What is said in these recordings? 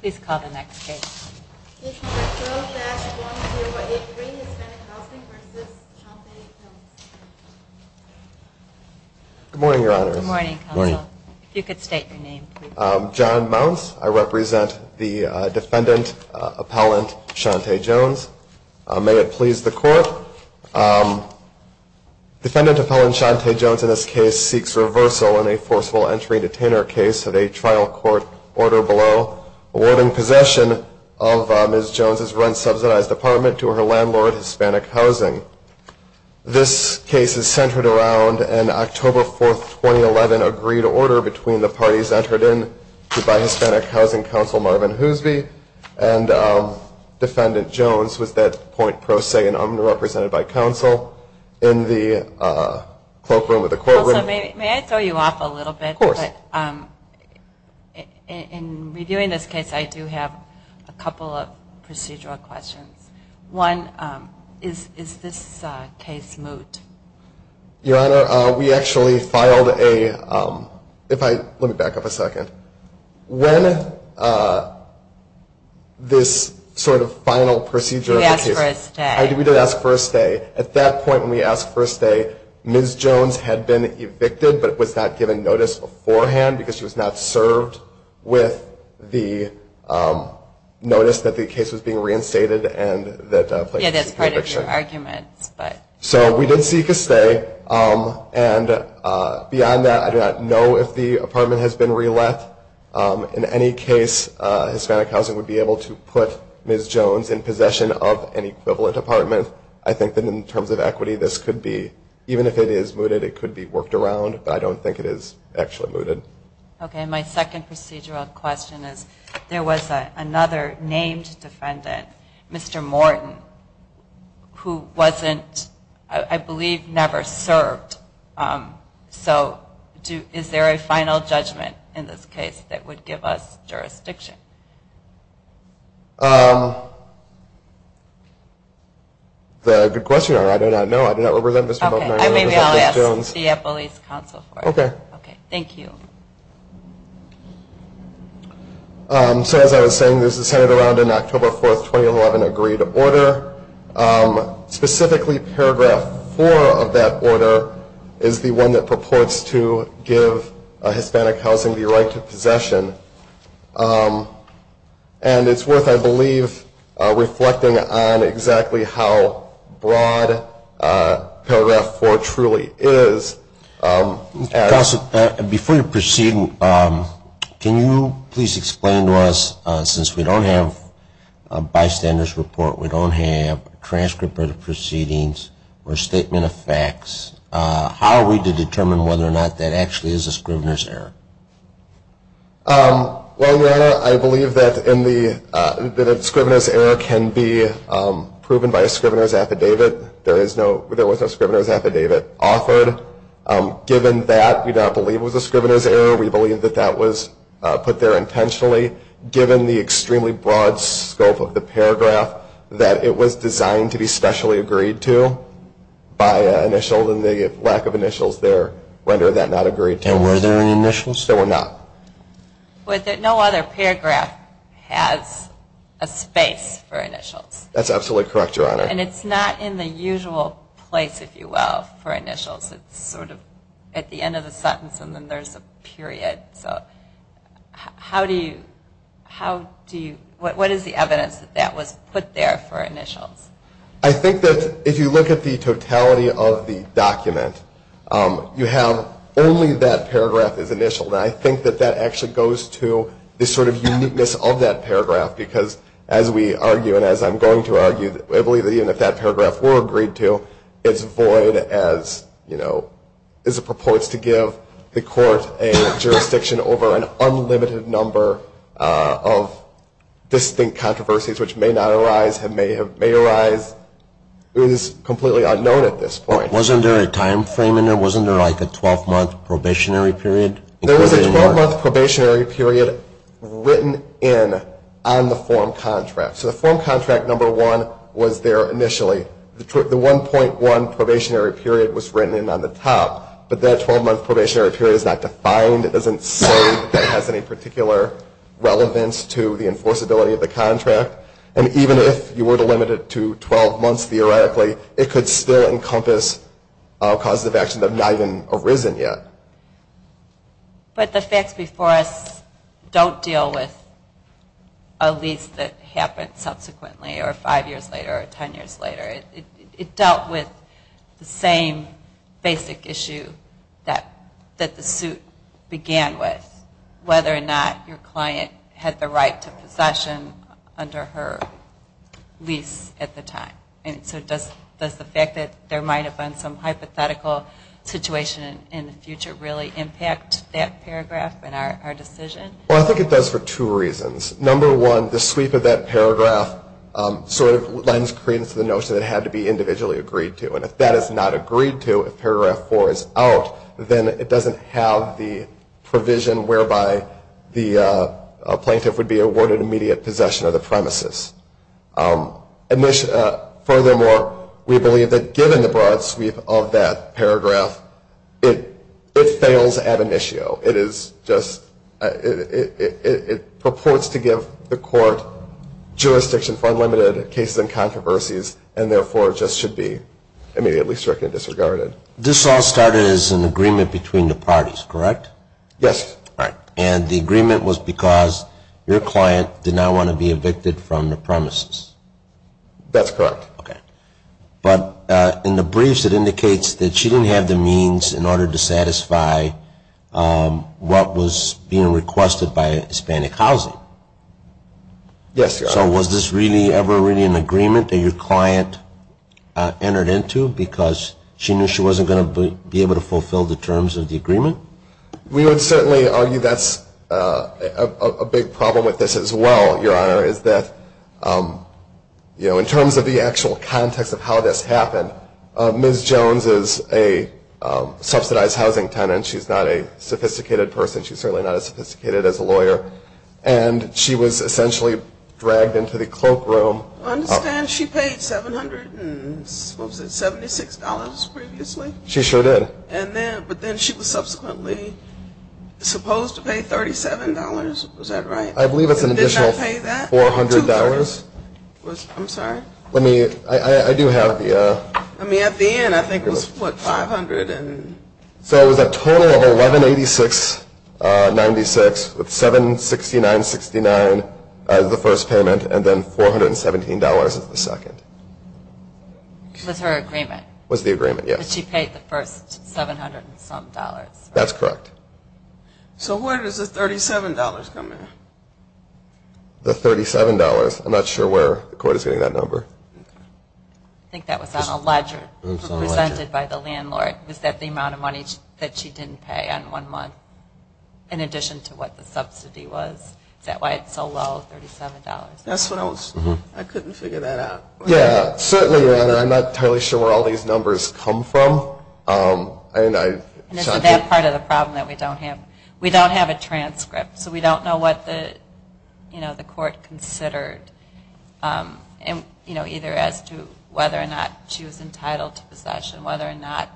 Please call the next case. Good morning, your honor. Good morning, counsel. If you could state your name, please. John Mounts. I represent the defendant, appellant Shante Jones. May it please the court. Defendant appellant Shante Jones in this case seeks reversal in a forceful entry detainer case of a trial court order below awarding possession of Ms. Jones' rent-subsidized apartment to her landlord, Hispanic Housing. This case is centered around an October 4, 2011, agreed order between the parties entered in by Hispanic Housing counsel Marvin Hoosby and defendant Jones with that point pro se and underrepresented by counsel in the cloakroom of the courtroom. Counsel, may I throw you off a little bit? Of course. In reviewing this case, I do have a couple of procedural questions. One, is this case moot? Your honor, we actually filed a, let me back up a second. When this sort of final procedure of the case. You asked for a stay. We did ask for a stay. At that point when we asked for a stay, Ms. Jones had been evicted, but was not given notice beforehand because she was not served with the notice that the case was being reinstated. Yeah, that's part of your argument. So we did seek a stay. And beyond that, I do not know if the apartment has been re-let. In any case, Hispanic Housing would be able to put Ms. Jones in possession of an equivalent apartment. I think that in terms of equity, this could be, even if it is mooted, it could be worked around. But I don't think it is actually mooted. Okay. My second procedural question is, there was another named defendant, Mr. Morton, who wasn't, I believe never served. So is there a final judgment in this case that would give us jurisdiction? The good question, I do not know. I do not remember that, Ms. Jones. Okay. Maybe I'll ask the Appellate's Counsel for it. Okay. Okay. Thank you. So as I was saying, this is centered around an October 4, 2011, agreed order. Specifically, Paragraph 4 of that order is the one that purports to give Hispanic Housing the right to possession. And it's worth, I believe, reflecting on exactly how broad Paragraph 4 truly is. Before you proceed, can you please explain to us, since we don't have a bystander's report, we don't have a transcript of the proceedings or a statement of facts, how are we to determine whether or not that actually is a scrivener's error? Well, Your Honor, I believe that a scrivener's error can be proven by a scrivener's affidavit. There was no scrivener's affidavit offered. Given that, we do not believe it was a scrivener's error. We believe that that was put there intentionally. Given the extremely broad scope of the paragraph, that it was designed to be specially agreed to by an initial, and the lack of initials there rendered that not agreed to. And were there any initials? There were not. But no other paragraph has a space for initials. That's absolutely correct, Your Honor. And it's not in the usual place, if you will, for initials. It's sort of at the end of the sentence, and then there's a period. So what is the evidence that that was put there for initials? I think that if you look at the totality of the document, you have only that paragraph as initial. And I think that that actually goes to the sort of uniqueness of that paragraph, because as we argue, and as I'm going to argue, I believe that even if that paragraph were agreed to, it's void as it purports to give the court a jurisdiction over an unlimited number of distinct controversies, which may not arise, may arise. It was completely unknown at this point. Wasn't there a time frame in there? Wasn't there like a 12-month probationary period? There was a 12-month probationary period written in on the form contract. So the form contract, number one, was there initially. The 1.1 probationary period was written in on the top, but that 12-month probationary period is not defined. It doesn't say that it has any particular relevance to the enforceability of the contract. And even if you were to limit it to 12 months theoretically, it could still encompass causes of action that have not even arisen yet. But the facts before us don't deal with a lease that happened subsequently, or five years later, or ten years later. It dealt with the same basic issue that the suit began with, whether or not your client had the right to possession under her lease at the time. And so does the fact that there might have been some hypothetical situation in the future really impact that paragraph in our decision? Well, I think it does for two reasons. Number one, the sweep of that paragraph sort of lends credence to the notion that it had to be individually agreed to. And if that is not agreed to, if paragraph four is out, then it doesn't have the provision whereby the plaintiff would be awarded immediate possession of the premises. Furthermore, we believe that given the broad sweep of that paragraph, it fails ad initio. It is just, it purports to give the court jurisdiction for unlimited cases and controversies, and therefore just should be immediately stricken and disregarded. This all started as an agreement between the parties, correct? Yes. And the agreement was because your client did not want to be evicted from the premises. That's correct. But in the briefs it indicates that she didn't have the means in order to satisfy what was being requested by Hispanic Housing. Yes, Your Honor. So was this really ever really an agreement that your client entered into because she knew she wasn't going to be able to fulfill the terms of the agreement? We would certainly argue that's a big problem with this as well, Your Honor, is that in terms of the actual context of how this happened, Ms. Jones is a subsidized housing tenant. She's not a sophisticated person. She's certainly not as sophisticated as a lawyer. And she was essentially dragged into the cloakroom. I understand she paid $776 previously. She sure did. But then she was subsequently supposed to pay $37. Was that right? I believe it's an additional $400. I'm sorry? I do have the... At the end I think it was, what, $500? So it was a total of $1,186.96 with $769.69 as the first payment and then $417 as the second. It was her agreement. It was the agreement, yes. But she paid the first $700 and some dollars. That's correct. So where does the $37 come in? The $37? I'm not sure where the court is getting that number. I think that was on a ledger presented by the landlord. Was that the amount of money that she didn't pay on one month in addition to what the subsidy was? Is that why it's so low, $37? I couldn't figure that out. Yeah, certainly, Your Honor. I'm not entirely sure where all these numbers come from. And is it that part of the problem that we don't have? We don't have a transcript, so we don't know what the court considered, either as to whether or not she was entitled to possession, whether or not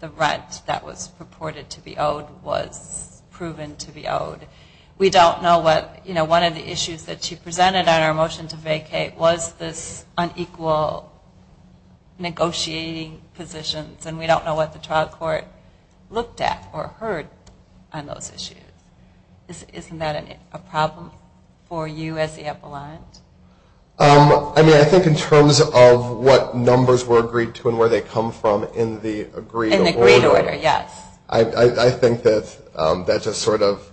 the rent that was purported to be owed was proven to be owed. We don't know what one of the issues that she presented on our motion to vacate was this unequal negotiating positions, and we don't know what the trial court looked at or heard on those issues. Isn't that a problem for you as the upper line? I mean, I think in terms of what numbers were agreed to and where they come from in the agreed order. In the agreed order, yes. I think that that just sort of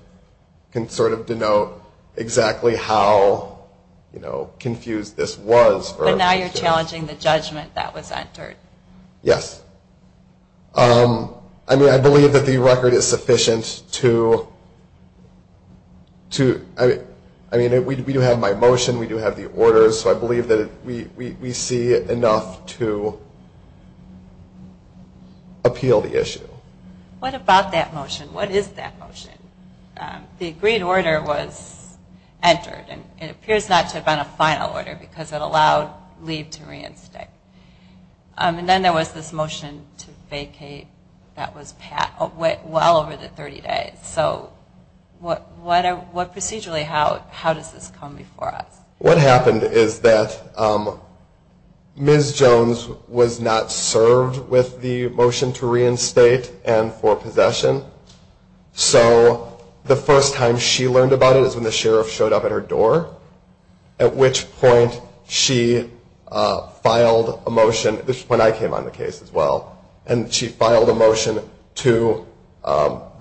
can sort of denote exactly how confused this was. But now you're challenging the judgment that was entered. Yes. I mean, I believe that the record is sufficient to – I mean, we do have my motion, we do have the orders, so I believe that we see enough to appeal the issue. What about that motion? What is that motion? The agreed order was entered, and it appears not to have been a final order because it allowed leave to reinstate. And then there was this motion to vacate that went well over the 30 days. So procedurally, how does this come before us? What happened is that Ms. Jones was not served with the motion to reinstate and for possession. So the first time she learned about it is when the sheriff showed up at her door, at which point she filed a motion, which is when I came on the case as well, and she filed a motion to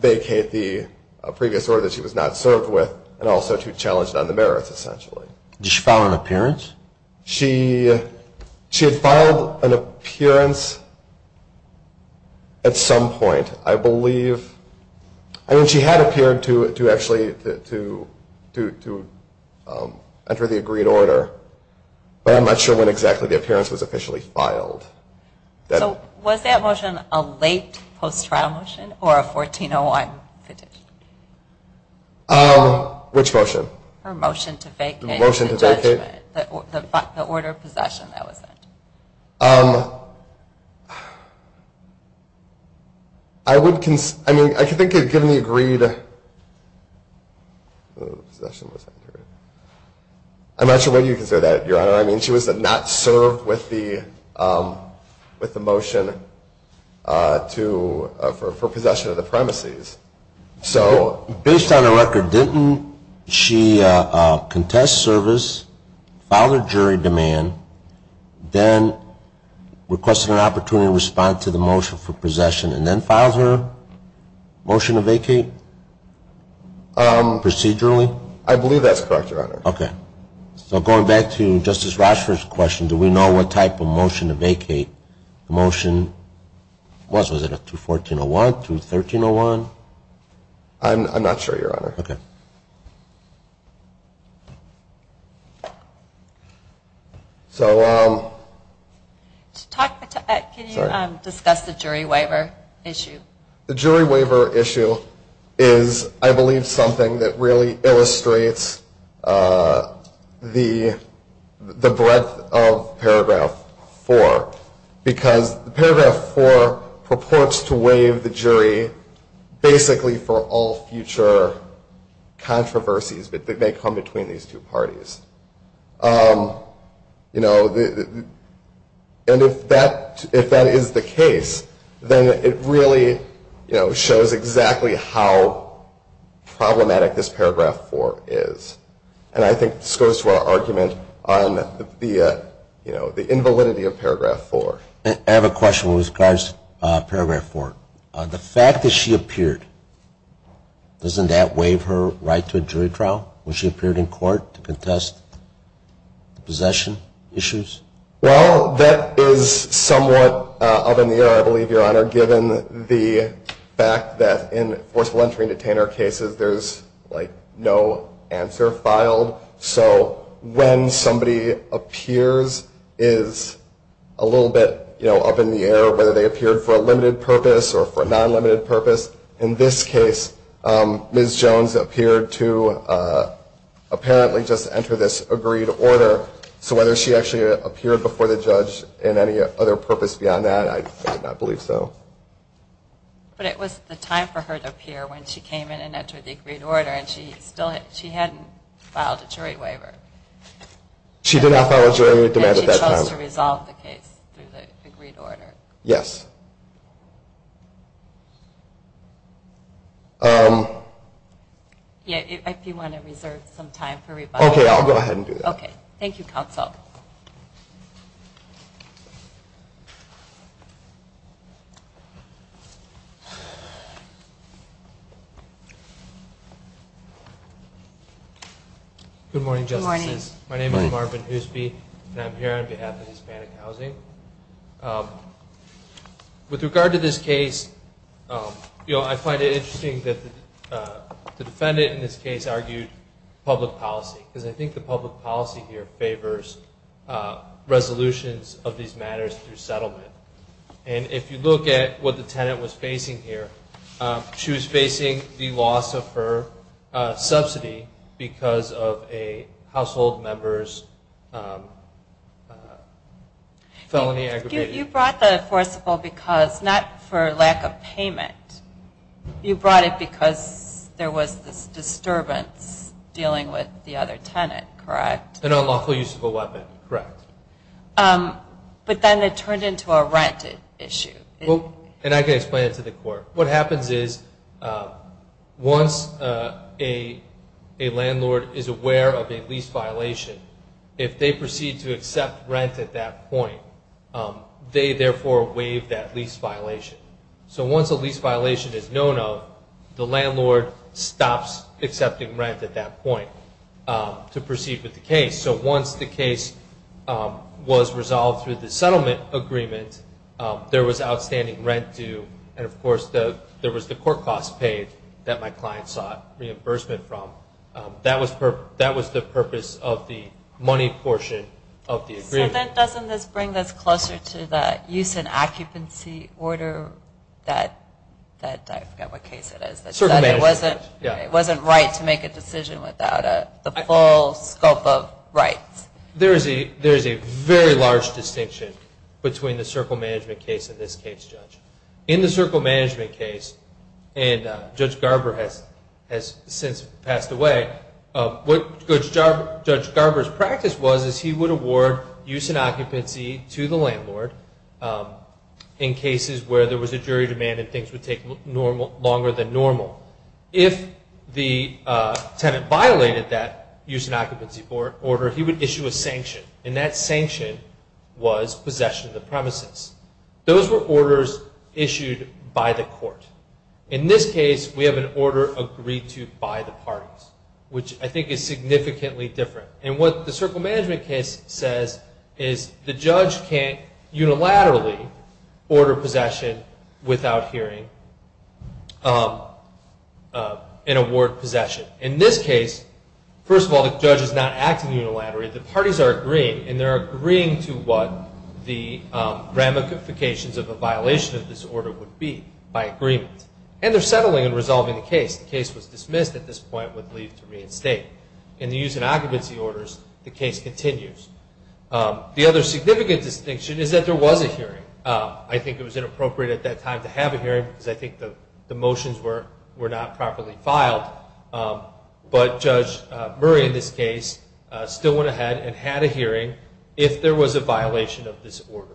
vacate the previous order that she was not served with and also to challenge it on the merits, essentially. Did she file an appearance? She had filed an appearance at some point, I believe. I mean, she had appeared to actually enter the agreed order, but I'm not sure when exactly the appearance was officially filed. So was that motion a late post-trial motion or a 1401 petition? Which motion? Her motion to vacate. The motion to vacate. The order of possession that was entered. I mean, I think given the agreed order of possession, I'm not sure whether you can say that, Your Honor. I mean, she was not served with the motion for possession of the premises. Based on her record, didn't she contest service, filed her jury demand, then requested an opportunity to respond to the motion for possession, and then filed her motion to vacate procedurally? I believe that's correct, Your Honor. Okay. So going back to Justice Rochford's question, do we know what type of motion to vacate the motion was? Was it a 214-01, 213-01? I'm not sure, Your Honor. Okay. Can you discuss the jury waiver issue? The jury waiver issue is, I believe, something that really illustrates the breadth of Paragraph 4, because Paragraph 4 purports to waive the jury basically for all future controversies that may come between these two parties. And if that is the case, then it really shows exactly how problematic this Paragraph 4 is. And I think this goes to our argument on the invalidity of Paragraph 4. I have a question with regards to Paragraph 4. The fact that she appeared, doesn't that waive her right to a jury trial when she appeared in court to contest the possession issues? Well, that is somewhat up in the air, I believe, Your Honor, given the fact that in forceful entry and detainer cases there's, like, no answer filed. So when somebody appears is a little bit, you know, up in the air, whether they appeared for a limited purpose or for a non-limited purpose. In this case, Ms. Jones appeared to apparently just enter this agreed order. So whether she actually appeared before the judge in any other purpose beyond that, I do not believe so. But it was the time for her to appear when she came in and entered the agreed order, and she still hadn't filed a jury waiver. She did not file a jury waiver at that time. She was able to resolve the case through the agreed order. Yes. Yeah, if you want to reserve some time for rebuttal. Okay, I'll go ahead and do that. Okay. Thank you, counsel. Good morning, Justices. Good morning. My name is Marvin Hoosby, and I'm here on behalf of Hispanic Housing. With regard to this case, you know, I find it interesting that the defendant in this case argued public policy because I think the public policy here favors resolutions of these matters through settlement. And if you look at what the tenant was facing here, she was facing the loss of her subsidy because of a household member's felony aggravated. You brought the forcible because not for lack of payment. You brought it because there was this disturbance dealing with the other tenant, correct? An unlawful use of a weapon, correct. But then it turned into a rent issue. And I can explain it to the court. What happens is once a landlord is aware of a lease violation, if they proceed to accept rent at that point, they therefore waive that lease violation. So once a lease violation is known of, the landlord stops accepting rent at that point to proceed with the case. So once the case was resolved through the settlement agreement, there was outstanding rent due. And, of course, there was the court costs paid that my client sought reimbursement from. That was the purpose of the money portion of the agreement. So then doesn't this bring us closer to the use and occupancy order that I forget what case it is. It wasn't right to make a decision without the full scope of rights. There is a very large distinction between the circle management case and this case, Judge. In the circle management case, and Judge Garber has since passed away, what Judge Garber's practice was is he would award use and occupancy to the landlord in cases where there was a jury demand and things would take longer than normal. If the tenant violated that use and occupancy order, he would issue a sanction. And that sanction was possession of the premises. Those were orders issued by the court. In this case, we have an order agreed to by the parties, which I think is significantly different. And what the circle management case says is the judge can't unilaterally order possession without hearing an award possession. In this case, first of all, the judge is not acting unilaterally. The parties are agreeing, and they're agreeing to what the ramifications of a violation of this order would be by agreement. And they're settling and resolving the case. The case was dismissed at this point with leave to reinstate. In the use and occupancy orders, the case continues. The other significant distinction is that there was a hearing. I think it was inappropriate at that time to have a hearing because I think the motions were not properly filed. But Judge Murray in this case still went ahead and had a hearing if there was a violation of this order.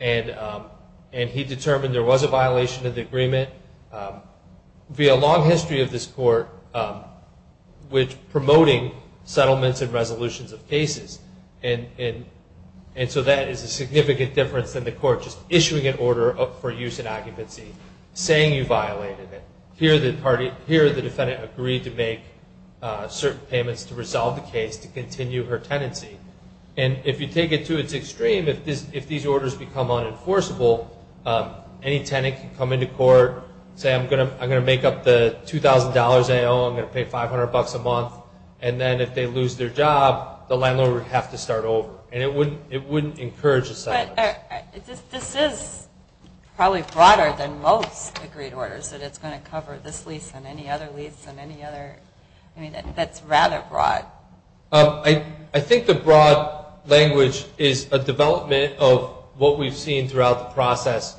And he determined there was a violation of the agreement via long history of this court And so that is a significant difference than the court just issuing an order for use and occupancy, saying you violated it. Here the defendant agreed to make certain payments to resolve the case to continue her tenancy. And if you take it to its extreme, if these orders become unenforceable, any tenant can come into court, say, I'm going to make up the $2,000 I owe, I'm going to pay $500 a month. And then if they lose their job, the landlord would have to start over. And it wouldn't encourage asylum. But this is probably broader than most agreed orders, that it's going to cover this lease and any other lease and any other. I mean, that's rather broad. I think the broad language is a development of what we've seen throughout the process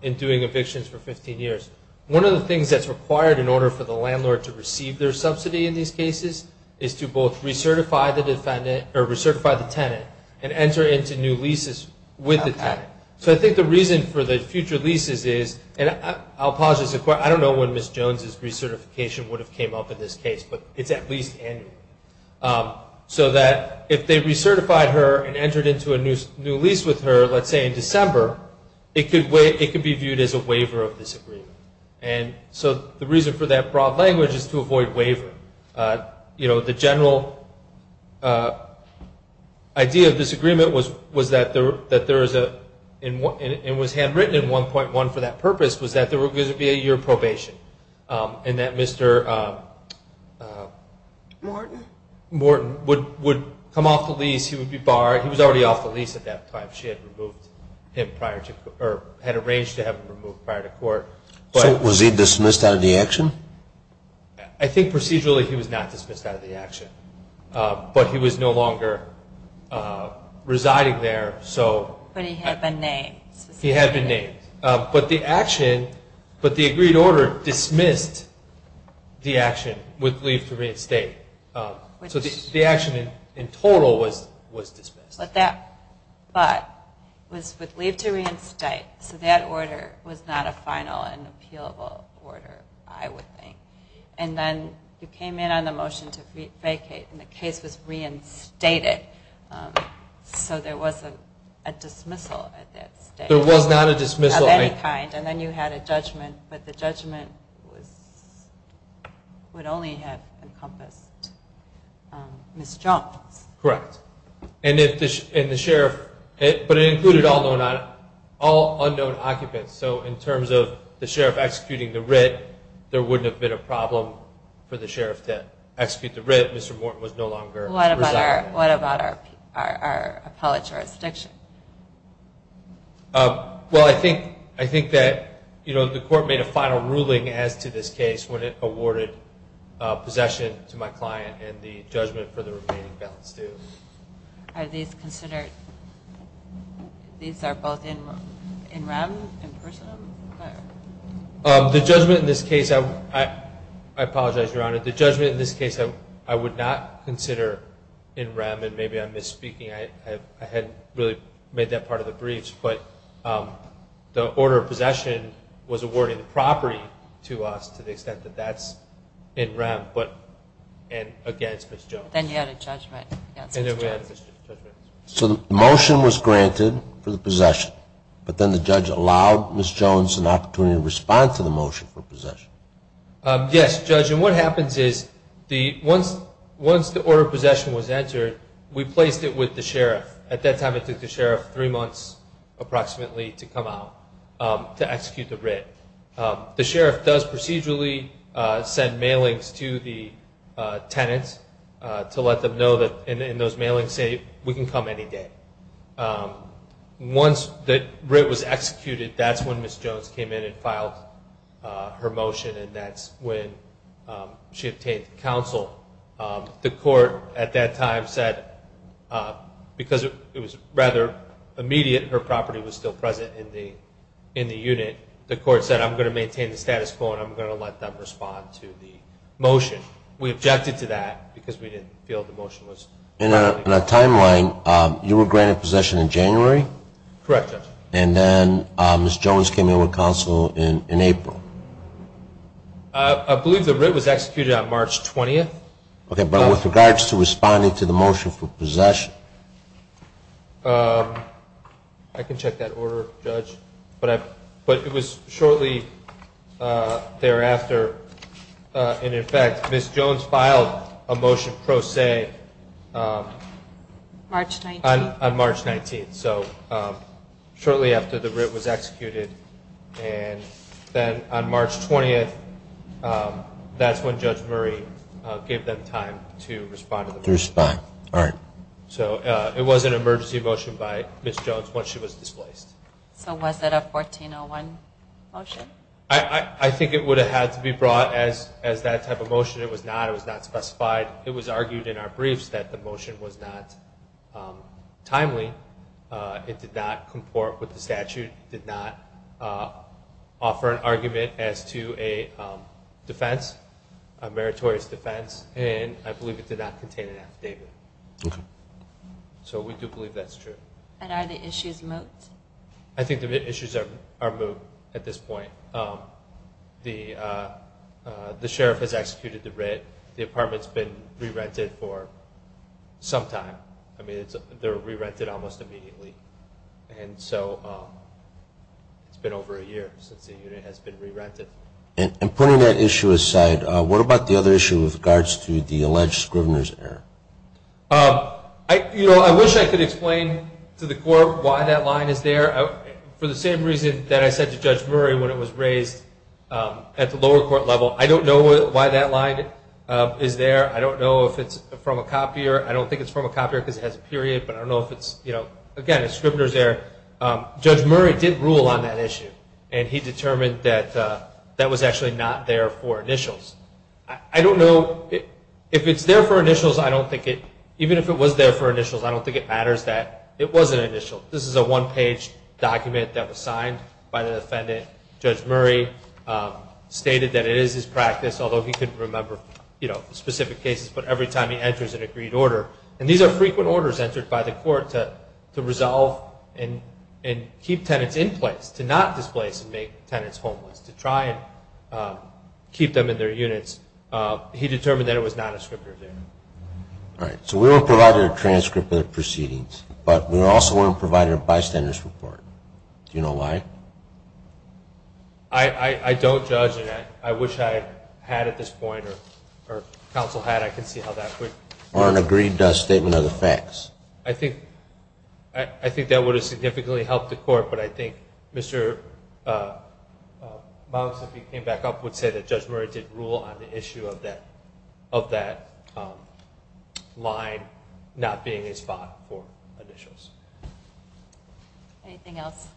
in doing evictions for 15 years. One of the things that's required in order for the landlord to receive their subsidy in these cases is to both recertify the tenant and enter into new leases with the tenant. So I think the reason for the future leases is, and I'll pause this. I don't know when Ms. Jones' recertification would have come up in this case, but it's at least annual. So that if they recertified her and entered into a new lease with her, let's say in December, it could be viewed as a waiver of this agreement. And so the reason for that broad language is to avoid wavering. You know, the general idea of this agreement was that there is a, and was handwritten in 1.1 for that purpose, was that there was going to be a year probation. And that Mr. Morton would come off the lease, he would be barred. He was already off the lease at that time. She had removed him prior to, or had arranged to have him removed prior to court. So was he dismissed out of the action? I think procedurally he was not dismissed out of the action. But he was no longer residing there, so. But he had been named. He had been named. But the action, but the agreed order dismissed the action with leave to reinstate. So the action in total was dismissed. But that thought was with leave to reinstate. So that order was not a final and appealable order, I would think. And then you came in on the motion to vacate, and the case was reinstated. So there was a dismissal at that stage. There was not a dismissal of any kind. And then you had a judgment. But the judgment would only have encompassed Ms. Jones. Correct. And the sheriff, but it included all unknown occupants. So in terms of the sheriff executing the writ, there wouldn't have been a problem for the sheriff to execute the writ. Mr. Morton was no longer residing. What about our appellate jurisdiction? Well, I think that the court made a final ruling as to this case when it awarded possession to my client and the judgment for the remaining balance due. Are these considered, these are both in rem, in person? The judgment in this case, I apologize, Your Honor. The judgment in this case I would not consider in rem, and maybe I'm misspeaking. I hadn't really made that part of the briefs. But the order of possession was awarded property to us to the extent that that's in rem and against Ms. Jones. Then you had a judgment against Ms. Jones. And then we had a judgment. So the motion was granted for the possession, but then the judge allowed Ms. Jones an opportunity to respond to the motion for possession. Yes, Judge. And what happens is once the order of possession was entered, we placed it with the sheriff. At that time it took the sheriff three months approximately to come out to execute the writ. The sheriff does procedurally send mailings to the tenant to let them know that, and those mailings say, we can come any day. Once the writ was executed, that's when Ms. Jones came in and filed her motion, and that's when she obtained counsel. The court at that time said, because it was rather immediate, her property was still present in the unit, the court said I'm going to maintain the status quo and I'm going to let them respond to the motion. We objected to that because we didn't feel the motion was relevant. In a timeline, you were granted possession in January? Correct, Judge. And then Ms. Jones came in with counsel in April? I believe the writ was executed on March 20th. Okay, but with regards to responding to the motion for possession? I can check that order, Judge, but it was shortly thereafter, and, in fact, Ms. Jones filed a motion pro se on March 19th, so shortly after the writ was executed, and then on March 20th, that's when Judge Murray gave them time to respond to the motion. To respond, all right. So it was an emergency motion by Ms. Jones once she was displaced. So was it a 1401 motion? I think it would have had to be brought as that type of motion. It was not. It was not specified. It was argued in our briefs that the motion was not timely. It did not comport with the statute. It did not offer an argument as to a defense, a meritorious defense, and I believe it did not contain an affidavit. Okay. So we do believe that's true. And are the issues moved? I think the issues are moved at this point. The sheriff has executed the writ. The apartment's been re-rented for some time. I mean, they're re-rented almost immediately. And so it's been over a year since the unit has been re-rented. And putting that issue aside, what about the other issue with regards to the alleged Scrivener's error? You know, I wish I could explain to the court why that line is there. For the same reason that I said to Judge Murray when it was raised at the I don't know if it's from a copier. I don't think it's from a copier because it has a period, but I don't know if it's, you know, again, a Scrivener's error. Judge Murray did rule on that issue, and he determined that that was actually not there for initials. I don't know if it's there for initials. I don't think it, even if it was there for initials, I don't think it matters that it was an initial. This is a one-page document that was signed by the defendant. Judge Murray stated that it is his practice, although he couldn't remember, you know, specific cases, but every time he enters an agreed order, and these are frequent orders entered by the court to resolve and keep tenants in place, to not displace and make tenants homeless, to try and keep them in their units. He determined that it was not a Scrivener's error. All right. So we weren't provided a transcript of the proceedings, but we also weren't provided a bystander's report. Do you know why? I don't, Judge, and I wish I had at this point, or counsel had, I can see how that would. Or an agreed statement of the facts. I think that would have significantly helped the court, but I think Mr. Malmes, if he came back up, would say that Judge Murray did rule on the issue of that line not being a spot for initials. Anything else?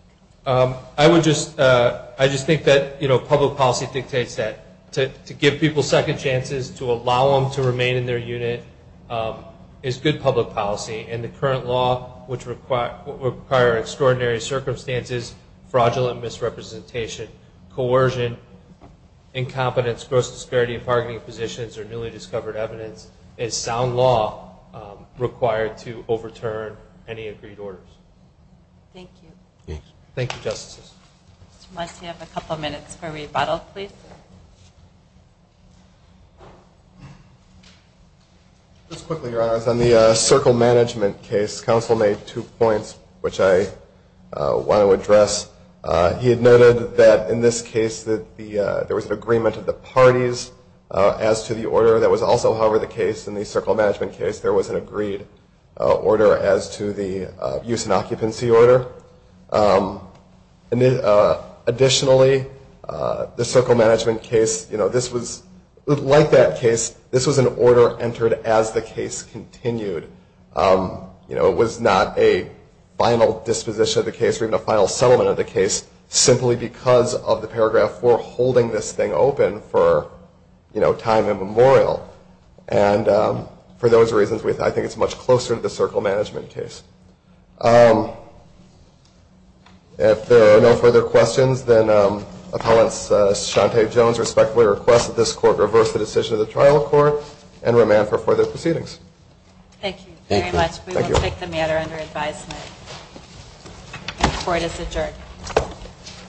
I would just, I just think that, you know, public policy dictates that. To give people second chances, to allow them to remain in their unit, is good public policy, and the current law would require extraordinary circumstances, fraudulent misrepresentation, coercion, incompetence, gross disparity of targeting positions, or newly discovered evidence, is sound law required to overturn any agreed orders. Thank you. Thank you, Justices. Mr. Malmes, you have a couple minutes for rebuttal, please. Just quickly, Your Honors, on the circle management case, counsel made two points which I want to address. He had noted that in this case that there was an agreement of the parties as to the order. That was also, however, the case in the circle management case, there was an agreed order as to the use and occupancy order. Additionally, the circle management case, you know, this was, like that case, this was an order entered as the case continued. You know, it was not a final disposition of the case, or even a final settlement of the case, simply because of the paragraph 4 holding this thing open for, you know, time immemorial. And for those reasons, I think it's much closer to the circle management case. If there are no further questions, then Appellant Shante Jones respectfully requests that this court reverse the decision of the trial court and remand for further proceedings. Thank you very much. We will take the matter under advisement. Court is adjourned.